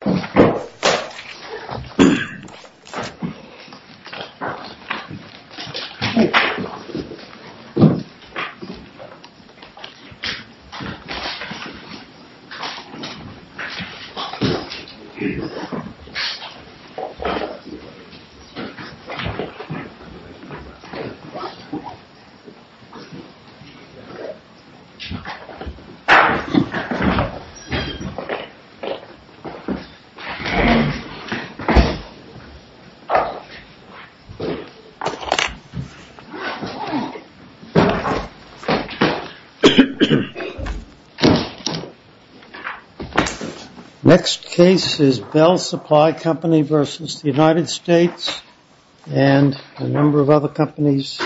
The the the the the the the the the the Next case is Bell Supply Company versus the United States and a number of other companies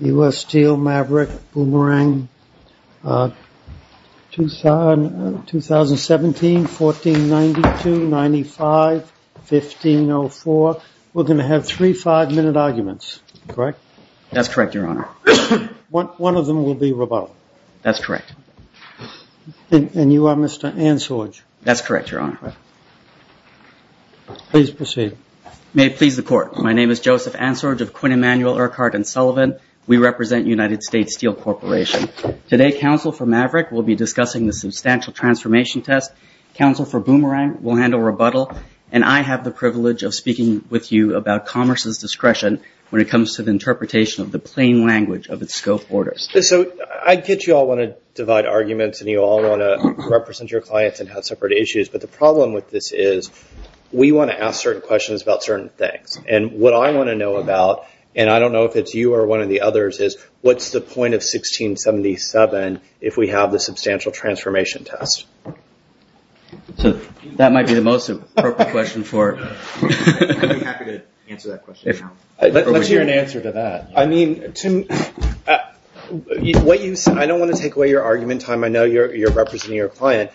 U.S. Steel, Maverick, Boomerang 2017, 1492, 95, 1504 We're going to have three five-minute arguments, correct? That's correct, Your Honor. One of them will be rebuttal. That's correct. And you are Mr. Ansorge? That's correct, Your Honor. Please proceed. May it please the court, my name is Joseph Ansorge of Quinn Emanuel, Urquhart & Sullivan. We represent United States Steel Corporation. Today, counsel for Maverick will be discussing the substantial transformation test. Counsel for Boomerang will handle rebuttal. And I have the privilege of speaking with you about commerce's discretion when it comes to the interpretation of the plain language of its scope orders. So I get you all want to divide arguments and you all want to represent your clients and have separate issues. But the problem with this is we want to ask certain questions about certain things. And what I want to know about, and I don't know if it's you or one of the others, is what's the point of 1677 if we have the substantial transformation test? So that might be the most appropriate question for it. I'd be happy to answer that question. Let's hear an answer to that. I mean, Tim, I don't want to take away your argument time. I know you're representing your client.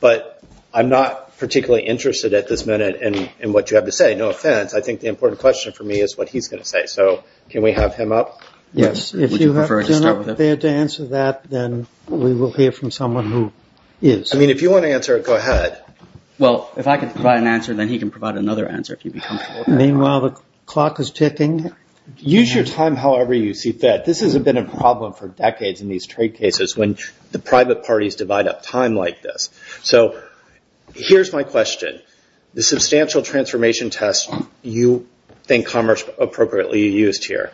But I'm not particularly interested at this minute in what you have to say. No offense. I think the important question for me is what he's going to say. So can we have him up? Yes. Would you prefer to start with him? If you're not prepared to answer that, then we will hear from someone who is. I mean, if you want to answer it, go ahead. Well, if I can provide an answer, then he can provide another answer, if you'd be comfortable with that. Meanwhile, the clock is ticking. Use your time however you see fit. This has been a problem for decades in these trade cases when the private parties divide up time like this. So here's my question. The substantial transformation test you think Commerce appropriately used here,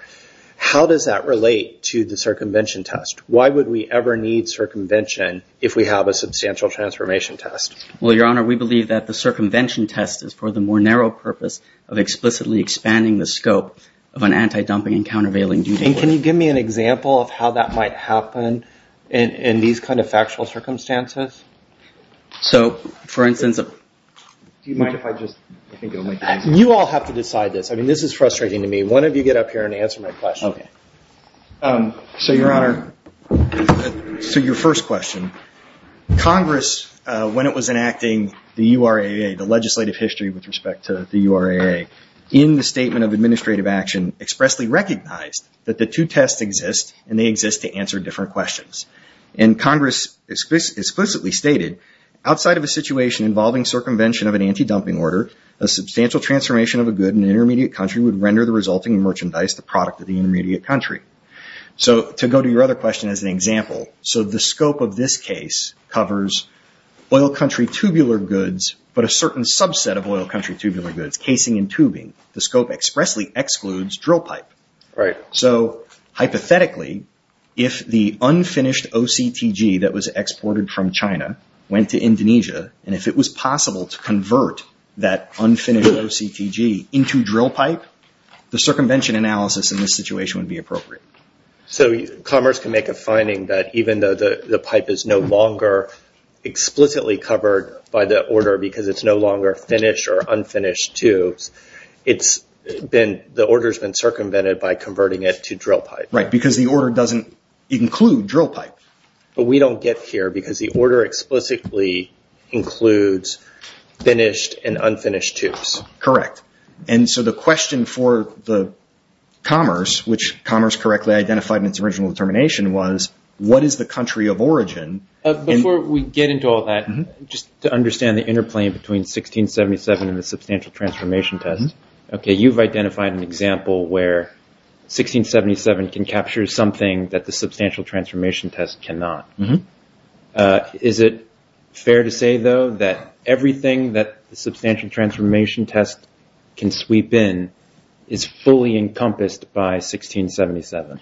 how does that relate to the circumvention test? Why would we ever need circumvention if we have a substantial transformation test? Well, Your Honor, we believe that the circumvention test is for the more narrow purpose of explicitly expanding the scope of an anti-dumping and countervailing duty. Can you give me an example of how that might happen in these kind of factual circumstances? So, for instance, do you mind if I just go ahead? You all have to decide this. I mean, this is frustrating to me. One of you get up here and answer my question. So, Your Honor, so your first question, Congress, when it was enacting the URAA, the legislative history with respect to the URAA, in the Statement of Administrative Action expressly recognized that the two tests exist, and they exist to answer different questions. And Congress explicitly stated, outside of a situation involving circumvention of an anti-dumping order, a substantial transformation of a good in an intermediate country would render the resulting merchandise the product of the intermediate country. So, to go to your other question as an example, so the scope of this case covers oil country tubular goods, but a certain subset of oil country tubular goods, casing and tubing, the scope expressly excludes drill pipe. Right. So, hypothetically, if the unfinished OCTG that was exported from China went to Indonesia, and if it was possible to convert that unfinished OCTG into drill pipe, the circumvention analysis in this situation would be appropriate. So, Congress can make a finding that even though the pipe is no longer explicitly covered by the order because it's no longer finished or unfinished tubes, it's been, the order's been circumvented by converting it to drill pipe. Right, because the order doesn't include drill pipe. But we don't get here because the order explicitly includes finished and unfinished tubes. Correct. And so the question for the Commerce, which Commerce correctly identified in its original determination was, what is the country of origin? Before we get into all that, just to understand the interplay between 1677 and the Substantial Transformation Test. Okay, you've identified an example where 1677 can capture something that the Substantial Transformation Test cannot. Is it fair to say, though, that everything that the Substantial Transformation Test can sweep in is fully encompassed by 1677?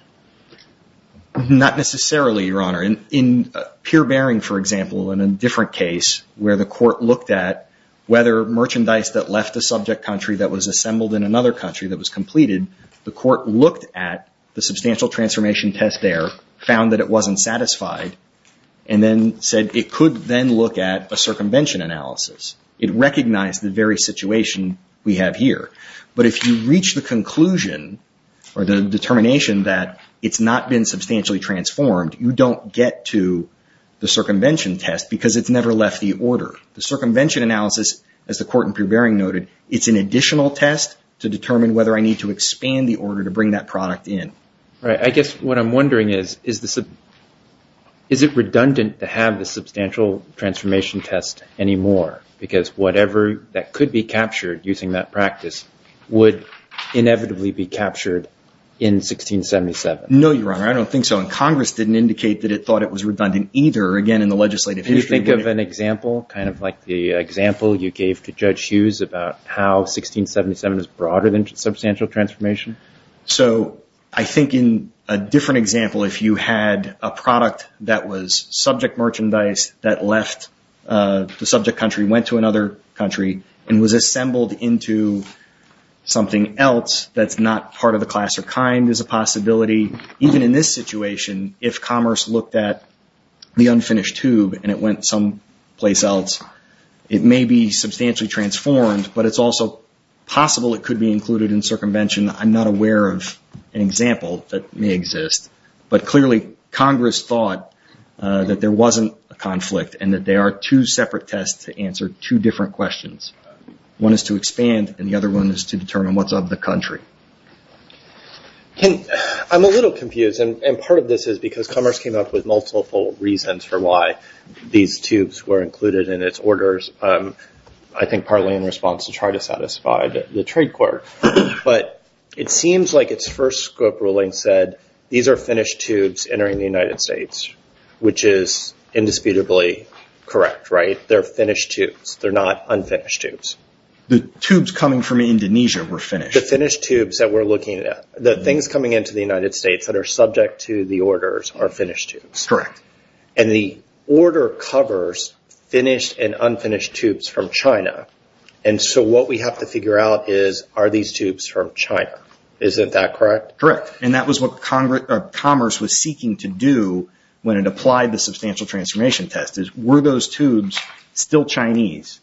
Not necessarily, Your Honor. In Pierre Bering, for example, in a different case where the court looked at whether merchandise that left a subject country that was assembled in another country that was completed, the court looked at the Substantial Transformation Test there found that it wasn't satisfied, and then said it could then look at a circumvention analysis. It recognized the very situation we have here. But if you reach the conclusion or the determination that it's not been substantially transformed, you don't get to the circumvention test because it's never left the order. The circumvention analysis, as the court in Pierre Bering noted, it's an additional test to determine whether I need to expand the order to bring that product in. All right, I guess what I'm wondering is, is it redundant to have the Substantial Transformation Test anymore? Because whatever that could be captured using that practice would inevitably be captured in 1677. No, Your Honor, I don't think so. And Congress didn't indicate that it thought it was redundant either, again, in the legislative history. Can you think of an example, kind of like the example you gave to Judge Hughes about how 1677 is broader than Substantial Transformation? So I think in a different example, if you had a product that was subject merchandise that left the subject country, went to another country, and was assembled into something else that's not part of the class or kind as a possibility, even in this situation, if commerce looked at the unfinished tube and it went someplace else, it may be substantially transformed, but it's also possible it could be included in circumvention. I'm not aware of an example that may exist. But clearly, Congress thought that there wasn't a conflict and that there are two separate tests to answer two different questions. One is to expand, and the other one is to determine what's of the country. I'm a little confused. And part of this is because Commerce came up with multiple reasons for why these tubes were included in its orders. I think partly in response to try to satisfy the trade court. But it seems like its first scope ruling said, these are finished tubes entering the United States, which is indisputably correct, right? They're finished tubes. They're not unfinished tubes. The tubes coming from Indonesia were finished. The finished tubes that we're looking at, the things coming into the United States that are subject to the orders are finished tubes. Correct. And the order covers finished and unfinished tubes from China. And so what we have to figure out is, are these tubes from China? Isn't that correct? Correct. And that was what Commerce was seeking to do when it applied the substantial transformation test, is were those tubes still Chinese?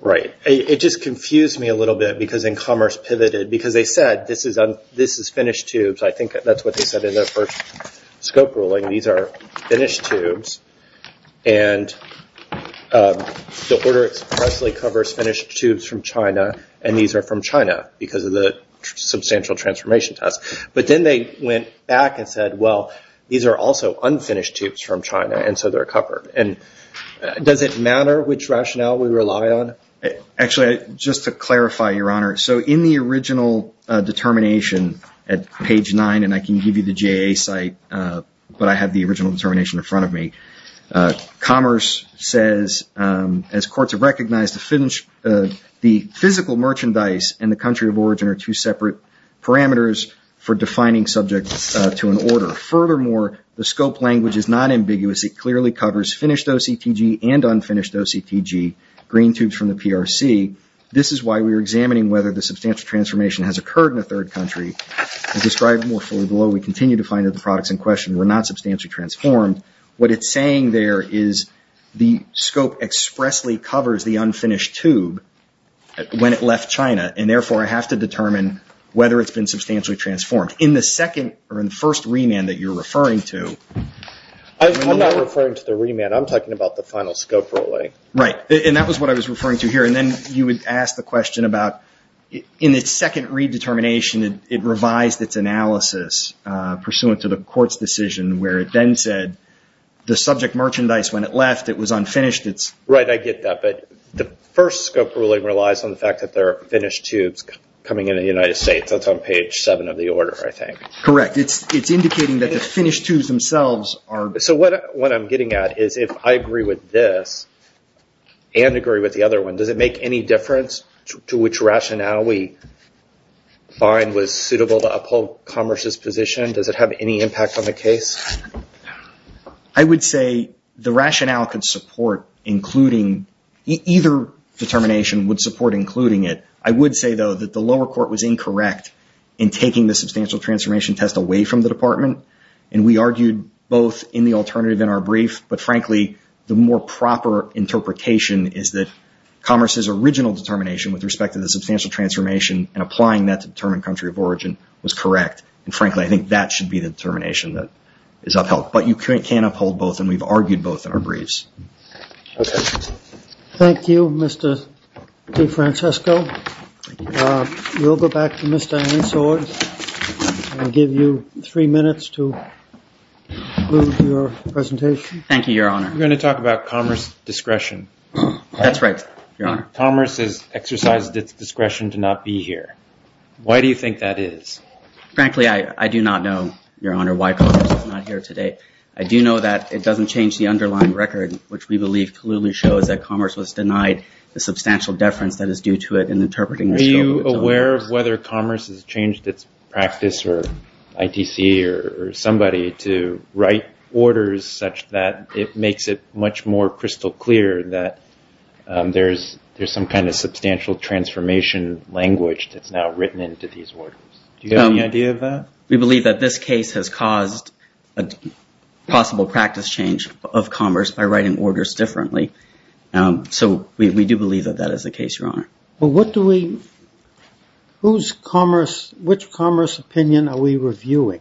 Right. It just confused me a little bit because then Commerce pivoted. Because they said, this is finished tubes. I think that's what they said in their first scope ruling. These are finished tubes. And the order expressly covers finished tubes from China. And these are from China because of the substantial transformation test. But then they went back and said, well, these are also unfinished tubes from China. And so they're covered. And does it matter which rationale we rely on? Actually, just to clarify, Your Honor. So in the original determination at page nine, and I can give you the JA site, but I have the original determination in front of me. Commerce says, as courts have recognized, the physical merchandise and the country of origin are two separate parameters for defining subjects to an order. Furthermore, the scope language is not ambiguous. It clearly covers finished OCTG and unfinished OCTG, green tubes from the PRC. This is why we were examining whether the substantial transformation has occurred in a third country. As described more fully below, we continue to find that the products in question were not substantially transformed. What it's saying there is the scope expressly covers the unfinished tube when it left China. And therefore, I have to determine whether it's been substantially transformed. In the second, or in the first remand that you're referring to. I'm not referring to the remand. I'm talking about the final scope ruling. Right, and that was what I was referring to here. And then you would ask the question about, in its second redetermination, it revised its analysis pursuant to the court's decision where it then said the subject merchandise, when it left, it was unfinished. Right, I get that. But the first scope ruling relies on the fact that there are finished tubes coming in in the United States. That's on page seven of the order, I think. Correct. It's indicating that the finished tubes themselves are. So what I'm getting at is if I agree with this and agree with the other one, does it make any difference to which rationale we find was suitable to uphold Commerce's position? Does it have any impact on the case? I would say the rationale could support including, either determination would support including it. I would say though that the lower court was incorrect in taking the substantial transformation test away from the department. And we argued both in the alternative in our brief, but frankly, the more proper interpretation is that Commerce's original determination with respect to the substantial transformation and applying that to determine country of origin was correct. And frankly, I think that should be the determination that is upheld. But you can't uphold both and we've argued both in our briefs. Okay. Thank you, Mr. DeFrancisco. We'll go back to Mr. Aniswar and give you three minutes to move your presentation. Thank you, your honor. I'm going to talk about Commerce's discretion. That's right, your honor. Commerce has exercised its discretion to not be here. Why do you think that is? Frankly, I do not know, your honor, why Commerce is not here today. I do know that it doesn't change the underlying record, which we believe clearly shows that Commerce was denied the substantial deference that is due to it in interpreting the show of its own. Are you aware of whether Commerce has changed its practice or ITC or somebody to write orders such that it makes it much more crystal clear that there's some kind of substantial transformation language that's now written into these orders? Do you have any idea of that? We believe that this case has caused a possible practice change of Commerce by writing orders differently. So we do believe that that is the case, your honor. Well, what do we, who's Commerce, which Commerce opinion are we reviewing?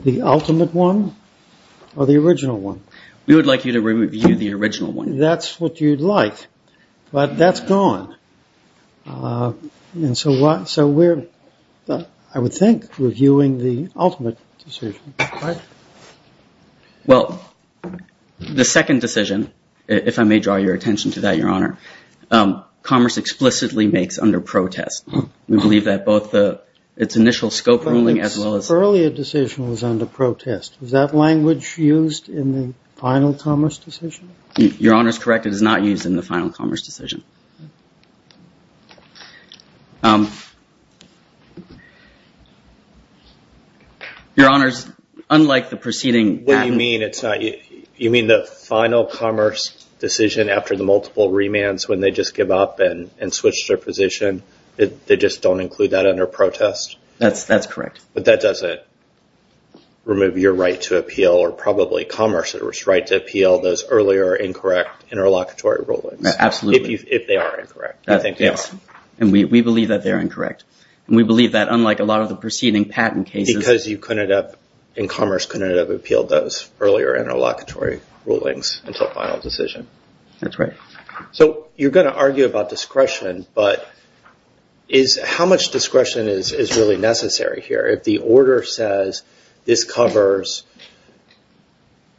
The ultimate one or the original one? We would like you to review the original one. That's what you'd like, but that's gone. And so we're, I would think, reviewing the ultimate decision, right? Well, the second decision, if I may draw your attention to that, your honor, Commerce explicitly makes under protest. We believe that both its initial scope ruling as well as- The earlier decision was under protest. Was that language used in the final Commerce decision? Your honor is correct. It is not used in the final Commerce decision. Your honors, unlike the preceding- What do you mean it's not, you mean the final Commerce decision after the multiple remands, when they just give up and switch their position, they just don't include that under protest? That's correct. But that doesn't remove your right to appeal or probably Commerce's right to appeal those earlier incorrect interlocutory rulings. Absolutely. If they are incorrect, we think they are. And we believe that they're incorrect. And we believe that unlike a lot of the preceding patent cases- Because you couldn't have, and Commerce couldn't have appealed those earlier interlocutory rulings until final decision. That's right. So you're gonna argue about discretion, but is how much discretion is really necessary here? If the order says this covers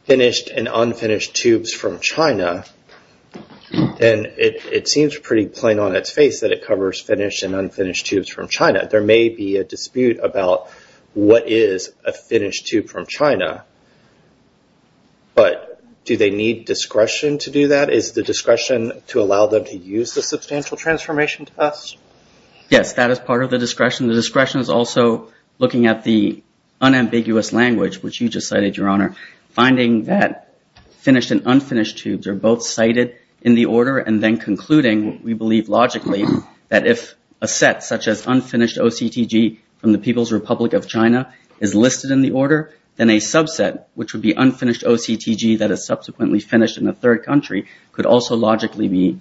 finished and unfinished tubes from China, then it seems pretty plain on its face that it covers finished and unfinished tubes from China. There may be a dispute about what is a finished tube from China, but do they need discretion to do that? Is the discretion to allow them to use the Substantial Transformation Test? Yes, that is part of the discretion. The discretion is also looking at the unambiguous language, which you just cited, Your Honor. Finding that finished and unfinished tubes are both cited in the order, and then concluding, we believe logically, that if a set such as unfinished OCTG from the People's Republic of China is listed in the order, then a subset, which would be unfinished OCTG that is subsequently finished in a third country, could also logically be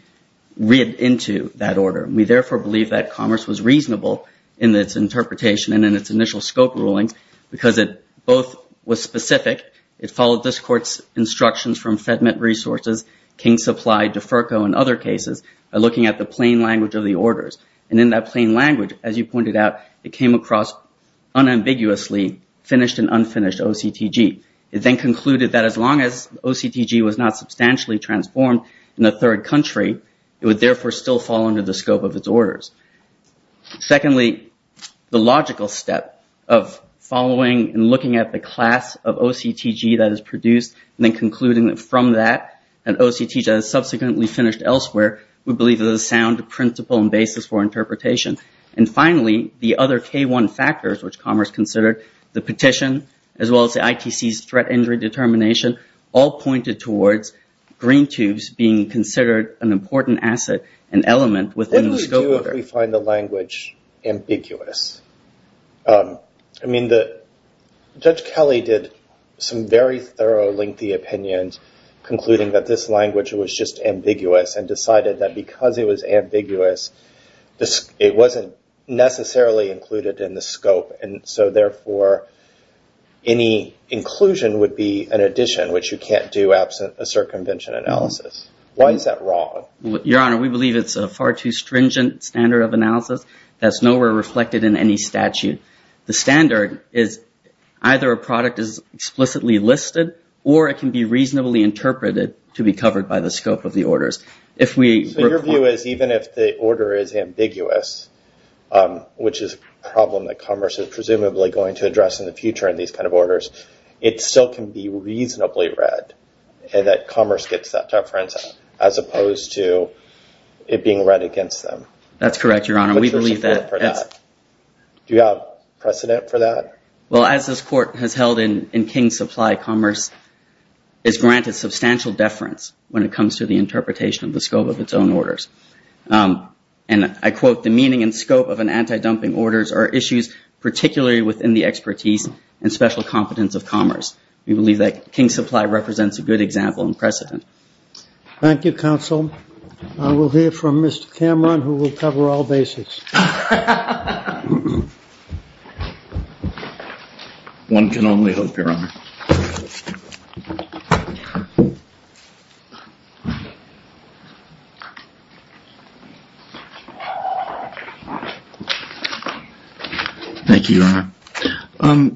read into that order. We therefore believe that Commerce was reasonable in its interpretation and in its initial scope rulings because it both was specific. It followed this court's instructions from FedMint Resources, King Supply, DeFerco, and other cases by looking at the plain language of the orders. And in that plain language, as you pointed out, it came across unambiguously finished and unfinished OCTG. It then concluded that as long as OCTG was not substantially transformed in a third country, it would therefore still fall under the scope of its orders. Secondly, the logical step of following and looking at the class of OCTG that is produced, and then concluding that from that, an OCTG that is subsequently finished elsewhere, we believe is a sound principle and basis for interpretation. And finally, the other K1 factors, which Commerce considered, the petition, as well as the ITC's threat injury determination, all pointed towards green tubes being considered an important asset and element within the scope order. Why do we find the language ambiguous? I mean, Judge Kelly did some very thorough, lengthy opinions concluding that this language was just ambiguous and decided that because it was ambiguous it wasn't necessarily included in the scope. And so therefore, any inclusion would be an addition, which you can't do absent a circumvention analysis. Why is that wrong? Your Honor, we believe it's a far too stringent standard of analysis that's nowhere reflected in any statute. The standard is either a product is explicitly listed or it can be reasonably interpreted to be covered by the scope of the orders. If we... So your view is even if the order is ambiguous, which is a problem that Commerce is presumably going to address in the future in these kind of orders, it still can be reasonably read, and that Commerce gets that deference as opposed to it being read against them. That's correct, Your Honor. We believe that. Do you have precedent for that? Well, as this court has held in King's Supply, Commerce is granted substantial deference when it comes to the interpretation of the scope of its own orders. And I quote, the meaning and scope of an anti-dumping orders are issues particularly within the expertise and special competence of Commerce. We believe that King's Supply represents a good example and precedent. Thank you, Counsel. I will hear from Mr. Cameron who will cover all basics. One can only hope, Your Honor. Thank you, Your Honor.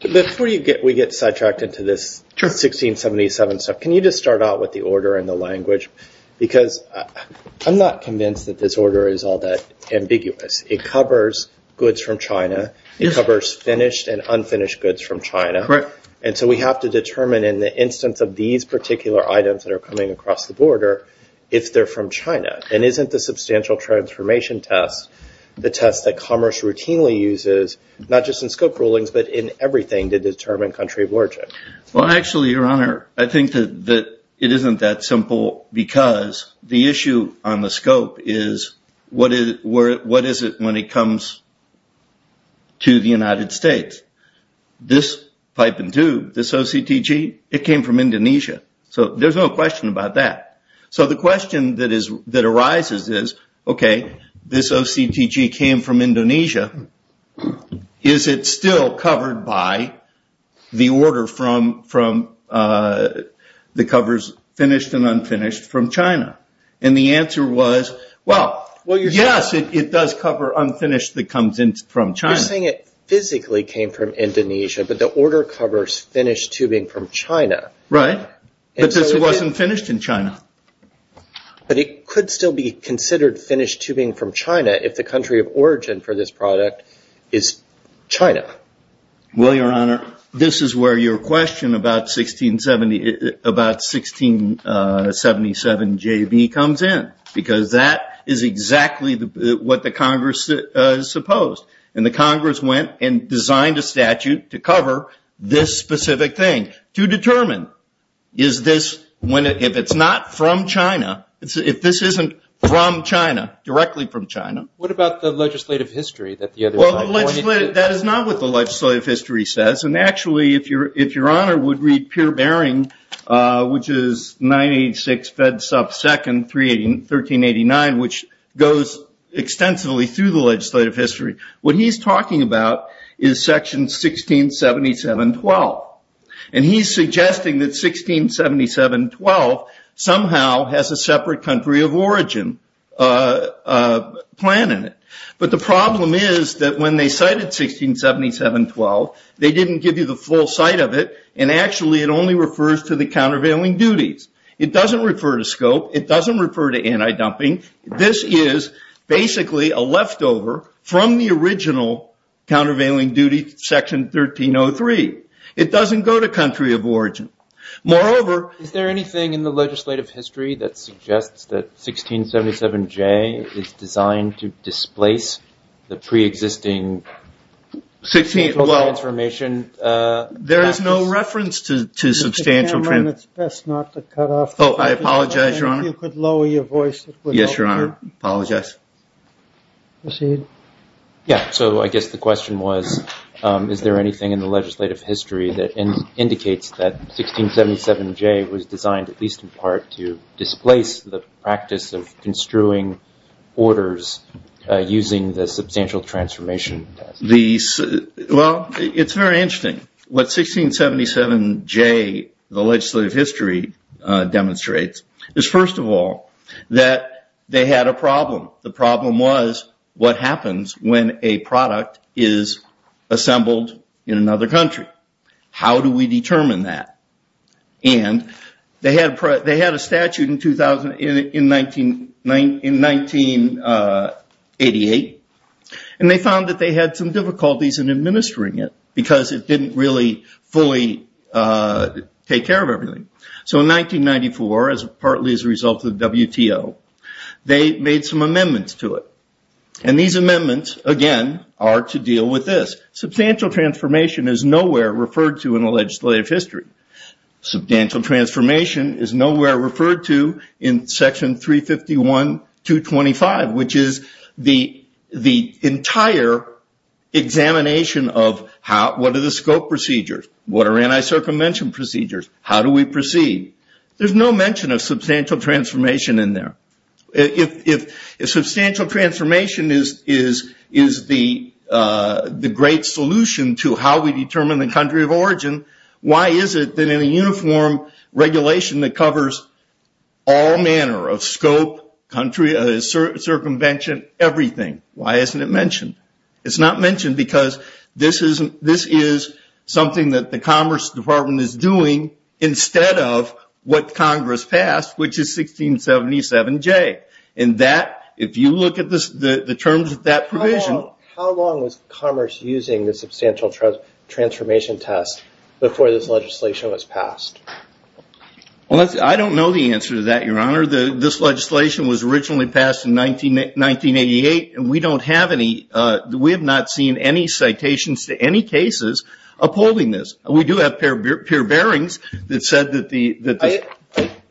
Before we get sidetracked into this 1677 stuff, can you just start out with the order and the language? Because I'm not convinced that this order is all that ambiguous. It covers goods from China. It covers finished and unfinished goods from China. And so we have to determine in the instance of these particular items that are coming across the border, if they're from China. And isn't the substantial transformation test the test that Commerce routinely uses, not just in scope rulings, but in everything to determine country of origin? Well, actually, Your Honor, I think that it isn't that simple because the issue on the scope is, what is it when it comes to the United States? This pipe and tube, this OCTG, it came from Indonesia. So there's no question about that. So the question that arises is, okay, this OCTG came from Indonesia. Is it still covered by the order from the covers finished and unfinished from China? And the answer was, well, yes, it does cover unfinished that comes in from China. You're saying it physically came from Indonesia, but the order covers finished tubing from China. Right, but this wasn't finished in China. But it could still be considered finished tubing from China if the country of origin for this product is China. Well, Your Honor, this is where your question about 1677JB comes in, because that is exactly what the Congress supposed. And the Congress went and designed a statute to cover this specific thing, to determine is this, if it's not from China, if this isn't from China, directly from China. What about the legislative history that the other side? That is not what the legislative history says. And actually, if Your Honor would read Peer Baring, which is 986 Fed Sub 2nd, 1389, which goes extensively through the legislative history. What he's talking about is section 1677.12. And he's suggesting that 1677.12 somehow has a separate country of origin plan in it. But the problem is that when they cited 1677.12, they didn't give you the full site of it. And actually, it only refers to the countervailing duties. It doesn't refer to scope. It doesn't refer to anti-dumping. This is basically a leftover from the original countervailing duty section 1303. It doesn't go to country of origin. Moreover, is there anything in the legislative history that suggests that 1677.j is designed to displace the pre-existing- 16, well, there is no reference to substantial- Mr. Cameron, it's best not to cut off- Oh, I apologize, Your Honor. If you could lower your voice- Yes, Your Honor, I apologize. Proceed. Yeah, so I guess the question was, is there anything in the legislative history that indicates that 1677.j was designed, at least in part, to displace the practice of construing orders using the substantial transformation? Well, it's very interesting. What 1677.j, the legislative history demonstrates is, first of all, that they had a problem. The problem was what happens when a product is assembled in another country? How do we determine that? And they had a statute in 1988, and they found that they had some difficulties in administering it, because it didn't really fully take care of everything. So in 1994, partly as a result of the WTO, they made some amendments to it. And these amendments, again, are to deal with this. Substantial transformation is nowhere referred to in the legislative history. Substantial transformation is nowhere referred to in Section 351.225, which is the entire examination of what are the scope procedures? What are anti-circumvention procedures? How do we proceed? There's no mention of substantial transformation in there. If substantial transformation is the great solution to how we determine the country of origin, why is it that in a uniform regulation that covers all manner of scope, country, circumvention, everything, why isn't it mentioned? It's not mentioned because this is something that the Commerce Department is doing instead of what Congress passed, which is 1677J, and that, if you look at the terms of that provision. How long was Commerce using the substantial transformation test before this legislation was passed? Well, I don't know the answer to that, Your Honor. This legislation was originally passed in 1988, and we don't have any, we have not seen any citations to any cases upholding this. We do have peer bearings that said that the-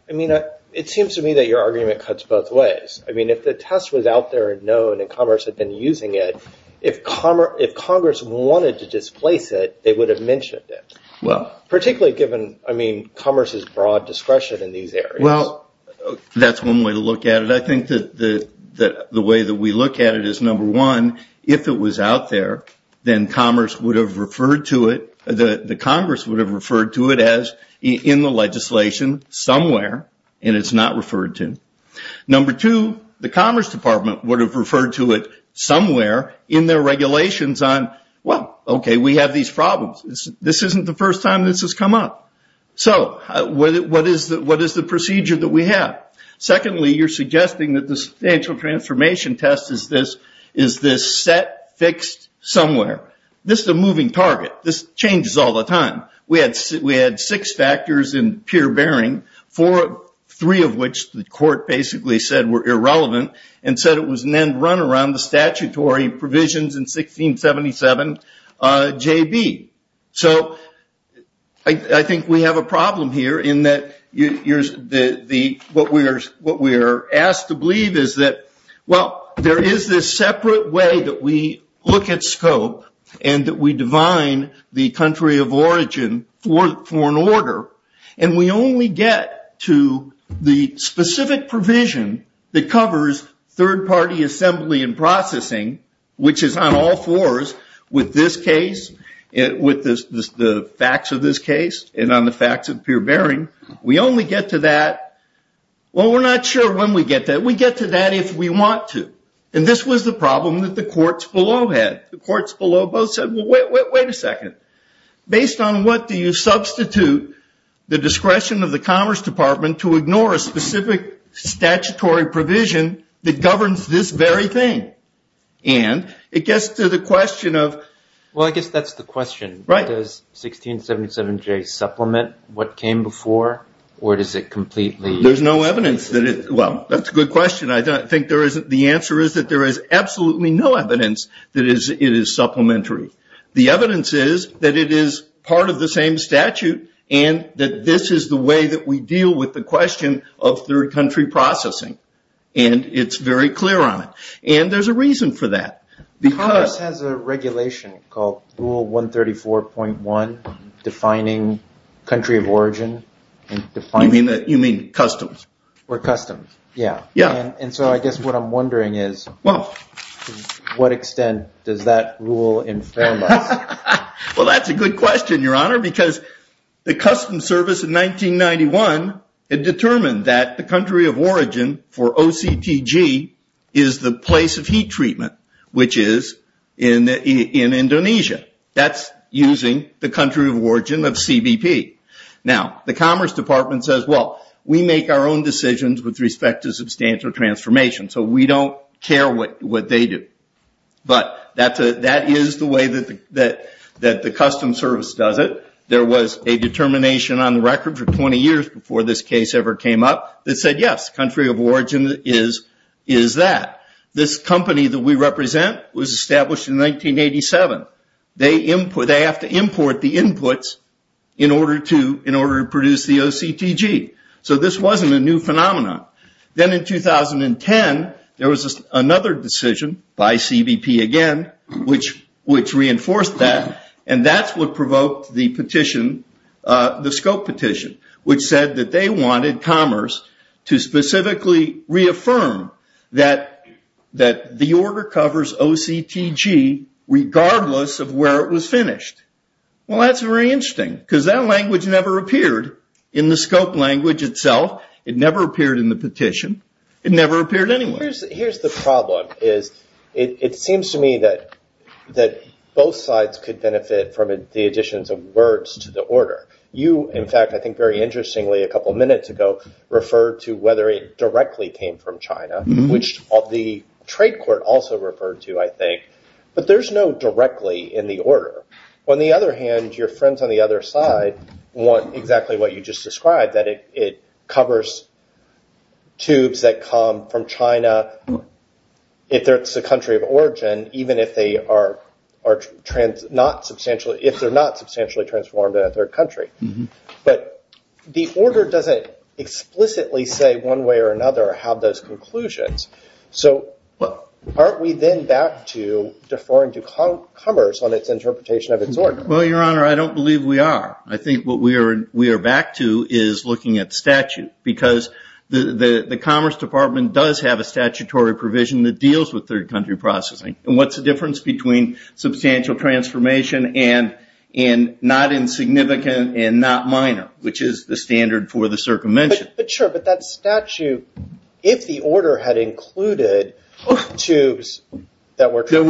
I mean, it seems to me that your argument cuts both ways. I mean, if the test was out there and known and Commerce had been using it, if Congress wanted to displace it, they would have mentioned it. Particularly given, I mean, Commerce's broad discretion in these areas. Well, that's one way to look at it. I think that the way that we look at it is, number one, if it was out there, then Commerce would have referred to it, the Congress would have referred to it as in the legislation somewhere, and it's not referred to. Number two, the Commerce Department would have referred to it somewhere in their regulations on, well, okay, we have these problems. This isn't the first time this has come up. So, what is the procedure that we have? Secondly, you're suggesting that the substantial transformation test is this set, fixed, somewhere. This is a moving target. This changes all the time. We had six factors in pure bearing, four, three of which the court basically said were irrelevant, and said it was an end run around the statutory provisions in 1677 J.B. So, I think we have a problem here in that what we are asked to believe is that, well, there is this separate way that we look at scope and that we divine the country of origin for an order, and we only get to the specific provision that covers third party assembly and processing, which is on all fours with this case, with the facts of this case, and on the facts of pure bearing. We only get to that, well, we're not sure when we get to that. We get to that if we want to, and this was the problem that the courts below had. The courts below both said, well, wait a second. Based on what do you substitute the discretion of the Commerce Department to ignore a specific statutory provision that governs this very thing? And it gets to the question of... Well, I guess that's the question. Right. Does 1677 J.B. supplement what came before, or does it completely... There's no evidence that it, well, that's a good question. I think the answer is that there is absolutely no evidence that it is supplementary. The evidence is that it is part of the same statute, and that this is the way that we deal with the question of third country processing, and it's very clear on it, and there's a reason for that. Because... Commerce has a regulation called Rule 134.1, defining country of origin, and defining... You mean customs? Or customs, yeah. Yeah. And so I guess what I'm wondering is... Well... To what extent does that rule in fairness? Well, that's a good question, Your Honor, because the Customs Service in 1991 had determined that the country of origin for OCTG is the place of heat treatment, which is in Indonesia. That's using the country of origin of CBP. Now, the Commerce Department says, well, we make our own decisions with respect to substantial transformation, so we don't care what they do. But that is the way that the Customs Service does it. There was a determination on the record for 20 years before this case ever came up that said, yes, country of origin is that. This company that we represent was established in 1987. They have to import the inputs in order to produce the OCTG. So this wasn't a new phenomenon. Then in 2010, there was another decision by CBP again, which reinforced that, and that's what provoked the petition, the scope petition, which said that they wanted Commerce to specifically reaffirm that the order covers OCTG regardless of where it was finished. Well, that's very interesting, because that language never appeared in the scope language itself. It never appeared in the petition. It never appeared anywhere. Here's the problem, is it seems to me that both sides could benefit from the additions of words to the order. You, in fact, I think very interestingly a couple of minutes ago, referred to whether it directly came from China, which the trade court also referred to, I think, but there's no directly in the order. On the other hand, your friends on the other side want exactly what you just described, that it covers tubes that come from China if it's a country of origin, even if they are not substantially, if they're not substantially transformed in a third country, but the order doesn't explicitly say one way or another have those conclusions, so aren't we then back to deferring to Commerce on its interpretation of its order? Well, your honor, I don't believe we are. I think what we are back to is looking at statute because the Commerce Department does have a statutory provision that deals with third country processing, and what's the difference between substantial transformation and not insignificant and not minor, which is the standard for the circumvention. But sure, but that statute, if the order had included tubes that were- Sure.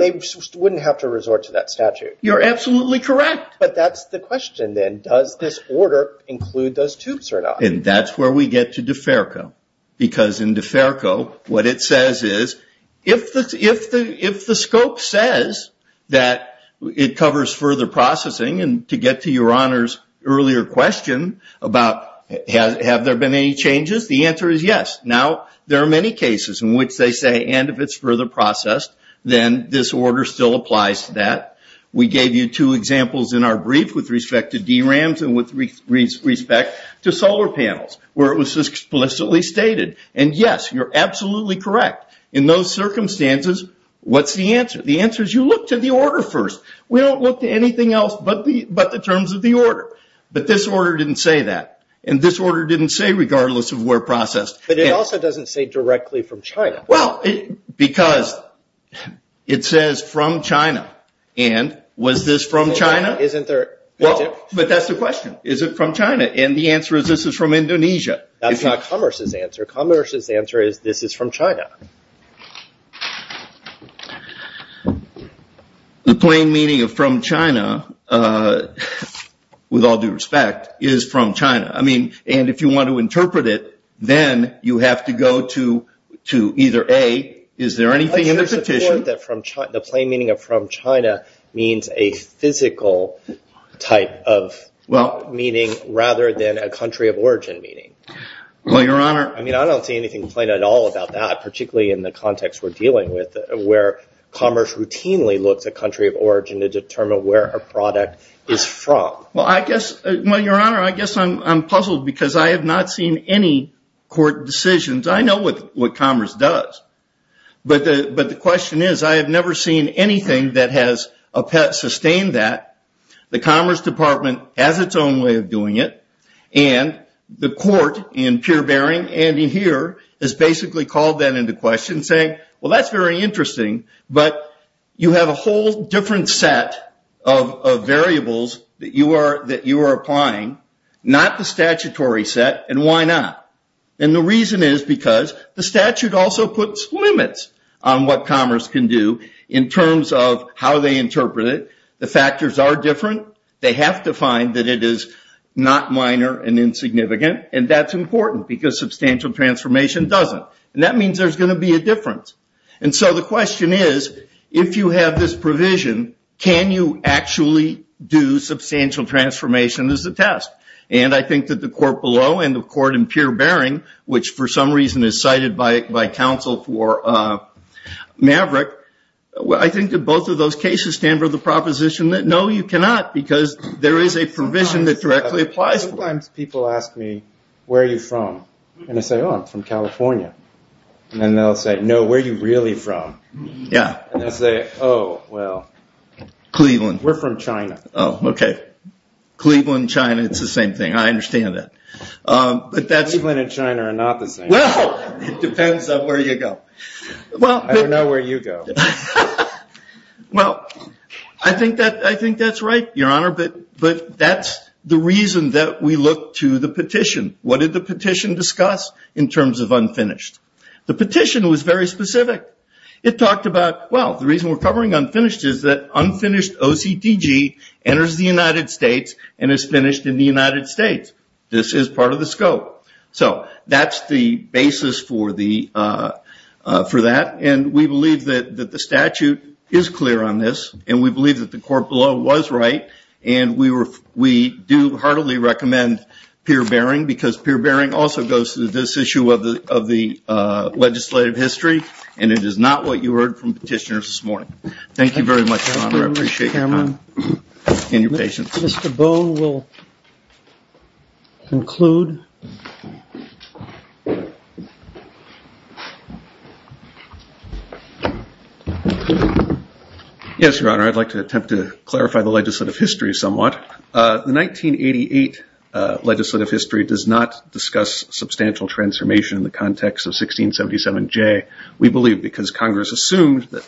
They wouldn't have to resort to that statute. You're absolutely correct. But that's the question then. Does this order include those tubes or not? And that's where we get to deferral because in deferral what it says is if the scope says that it covers further processing and to get to your honor's earlier question about have there been any changes, the answer is yes. Now, there are many cases in which they say and if it's further processed, then this order still applies to that. We gave you two examples in our brief with respect to DRAMs and with respect to solar panels where it was explicitly stated. And yes, you're absolutely correct. In those circumstances, what's the answer? The answer is you look to the order first. We don't look to anything else but the terms of the order. But this order didn't say that. And this order didn't say regardless of where processed. But it also doesn't say directly from China. Well, because it says from China and was this from China? Isn't there? But that's the question. Is it from China? And the answer is this is from Indonesia. That's not Commerce's answer. Commerce's answer is this is from China. The plain meaning of from China, with all due respect, is from China. I mean, and if you want to interpret it, then you have to go to either A, is there anything in the petition? The plain meaning of from China means a physical type of meaning rather than a country of origin meaning. Well, Your Honor. I mean, I don't see anything plain at all about that, particularly in the context we're dealing with where Commerce routinely looks at country of origin to determine where a product is from. Well, I guess, well, Your Honor, I guess I'm puzzled because I have not seen any court decisions. I know what Commerce does. But the question is, I have never seen anything that has sustained that. The Commerce Department has its own way of doing it. And the court in pure bearing, Andy here, has basically called that into question saying, well, that's very interesting, but you have a whole different set of variables that you are applying, not the statutory set, and why not? And the reason is because the statute also puts limits on what Commerce can do in terms of how they interpret it. The factors are different. They have to find that it is not minor and insignificant. And that's important because substantial transformation doesn't. And that means there's gonna be a difference. And so the question is, if you have this provision, can you actually do substantial transformation as a test? And I think that the court below and the court in pure bearing, which for some reason is cited by counsel for Maverick, I think that both of those cases stand for the proposition that no, you cannot, because there is a provision that directly applies. People ask me, where are you from? And I say, oh, I'm from California. And they'll say, no, where are you really from? Yeah. And they'll say, oh, well. Cleveland. We're from China. Oh, okay. Cleveland, China, it's the same thing. I understand that. But that's- Cleveland and China are not the same. Well, it depends on where you go. Well- I don't know where you go. Well, I think that's right, Your Honor. But that's the reason that we look to the petition. What did the petition discuss in terms of unfinished? The petition was very specific. It talked about, well, the reason we're covering unfinished is that unfinished OCTG enters the United States and is finished in the United States. This is part of the scope. So that's the basis for that. And we believe that the statute is clear on this. And we believe that the court below was right. And we do heartily recommend peer bearing because peer bearing also goes to this issue of the legislative history. And it is not what you heard from petitioners this morning. Thank you very much, Your Honor. I appreciate your time. And your patience. Mr. Boe will conclude. Yes, Your Honor. I'd like to attempt to clarify the legislative history somewhat. The 1988 legislative history does not discuss substantial transformation in the context of 1677J. We believe because Congress assumed that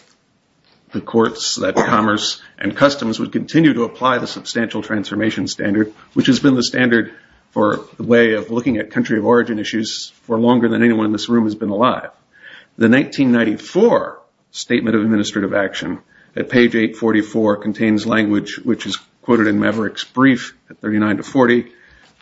the courts, that commerce and customs would continue to apply the substantial transformation standard, which has been the standard for the way of looking at country of origin issues for longer than anyone in this room has been alive. The 1994 Statement of Administrative Action at page 844 contains language which is quoted in Maverick's brief at 39 to 40,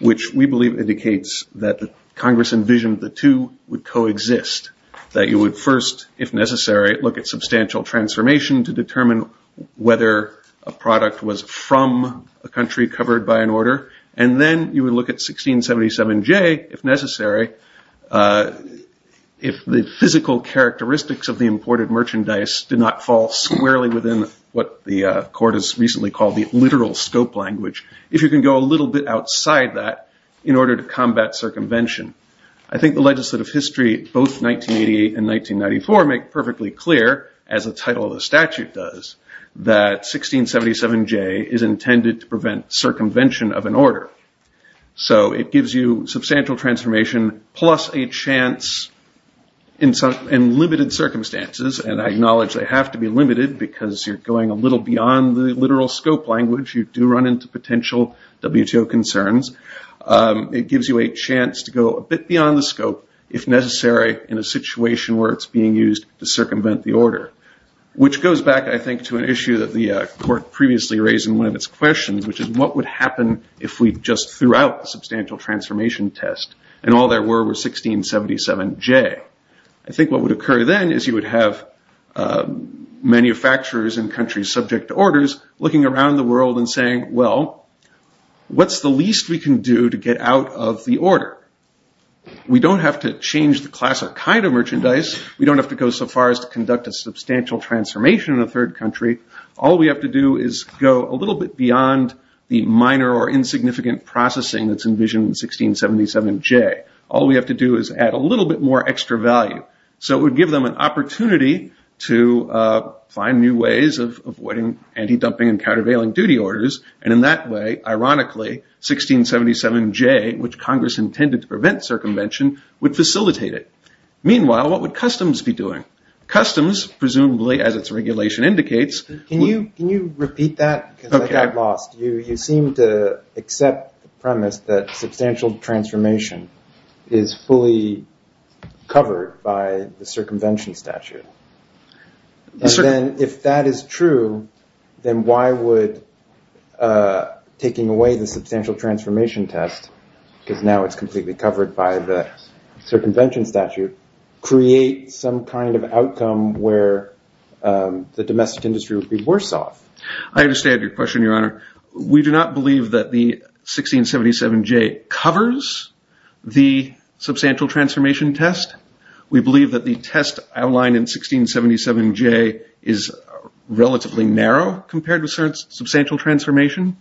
which we believe indicates that the Congress envisioned the two would coexist. That you would first, if necessary, look at substantial transformation to determine whether a product was from a country covered by an order. And then you would look at 1677J, if necessary, if the physical characteristics of the imported merchandise did not fall squarely within what the court has recently called the literal scope language. If you can go a little bit outside that in order to combat circumvention. I think the legislative history, both 1988 and 1994 make perfectly clear as the title of the statute does, that 1677J is intended to prevent circumvention of an order. So it gives you substantial transformation plus a chance in limited circumstances. And I acknowledge they have to be limited because you're going a little beyond the literal scope language. You do run into potential WTO concerns. It gives you a chance to go a bit beyond the scope if necessary in a situation where it's being used to circumvent the order. Which goes back, I think, to an issue that the court previously raised in one of its questions, which is what would happen if we just threw out a substantial transformation test and all there were was 1677J? I think what would occur then is you would have manufacturers in countries subject to orders looking around the world and saying, well, what's the least we can do to get out of the order? We don't have to change the class or kind of merchandise. We don't have to go so far as to conduct a substantial transformation in a third country. All we have to do is go a little bit beyond the minor or insignificant processing that's envisioned in 1677J. All we have to do is add a little bit more extra value. So it would give them an opportunity to find new ways of avoiding anti-dumping and countervailing duty orders. And in that way, ironically, 1677J, which Congress intended to prevent circumvention, would facilitate it. Meanwhile, what would customs be doing? Customs, presumably, as its regulation indicates- Can you repeat that? Okay. Because I got lost. You seem to accept the premise that substantial transformation is fully covered by the circumvention statute. And then if that is true, then why would taking away the substantial transformation test, because now it's completely covered by the circumvention statute, create some kind of outcome where the domestic industry would be worse off? I understand your question, Your Honor. We do not believe that the 1677J covers the substantial transformation test. We believe that the test outlined in 1677J is relatively narrow compared with substantial transformation.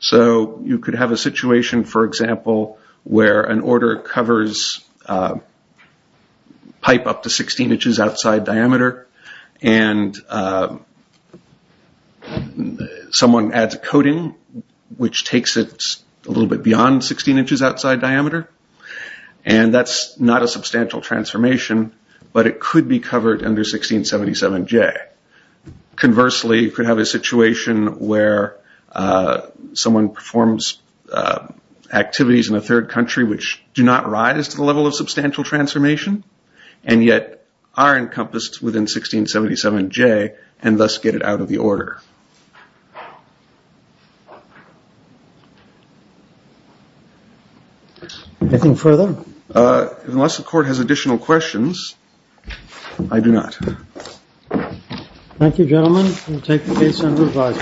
So you could have a situation, for example, where an order covers pipe up to 16 inches outside diameter and someone adds a coating, which takes it a little bit beyond 16 inches outside diameter. And that's not a substantial transformation, but it could be covered under 1677J. Conversely, you could have a situation where someone performs activities in a third country which do not rise to the level of substantial transformation and yet are encompassed within 1677J and thus get it out of the order. Anything further? Unless the court has additional questions, I do not. Thank you, gentlemen. We'll take the case under review.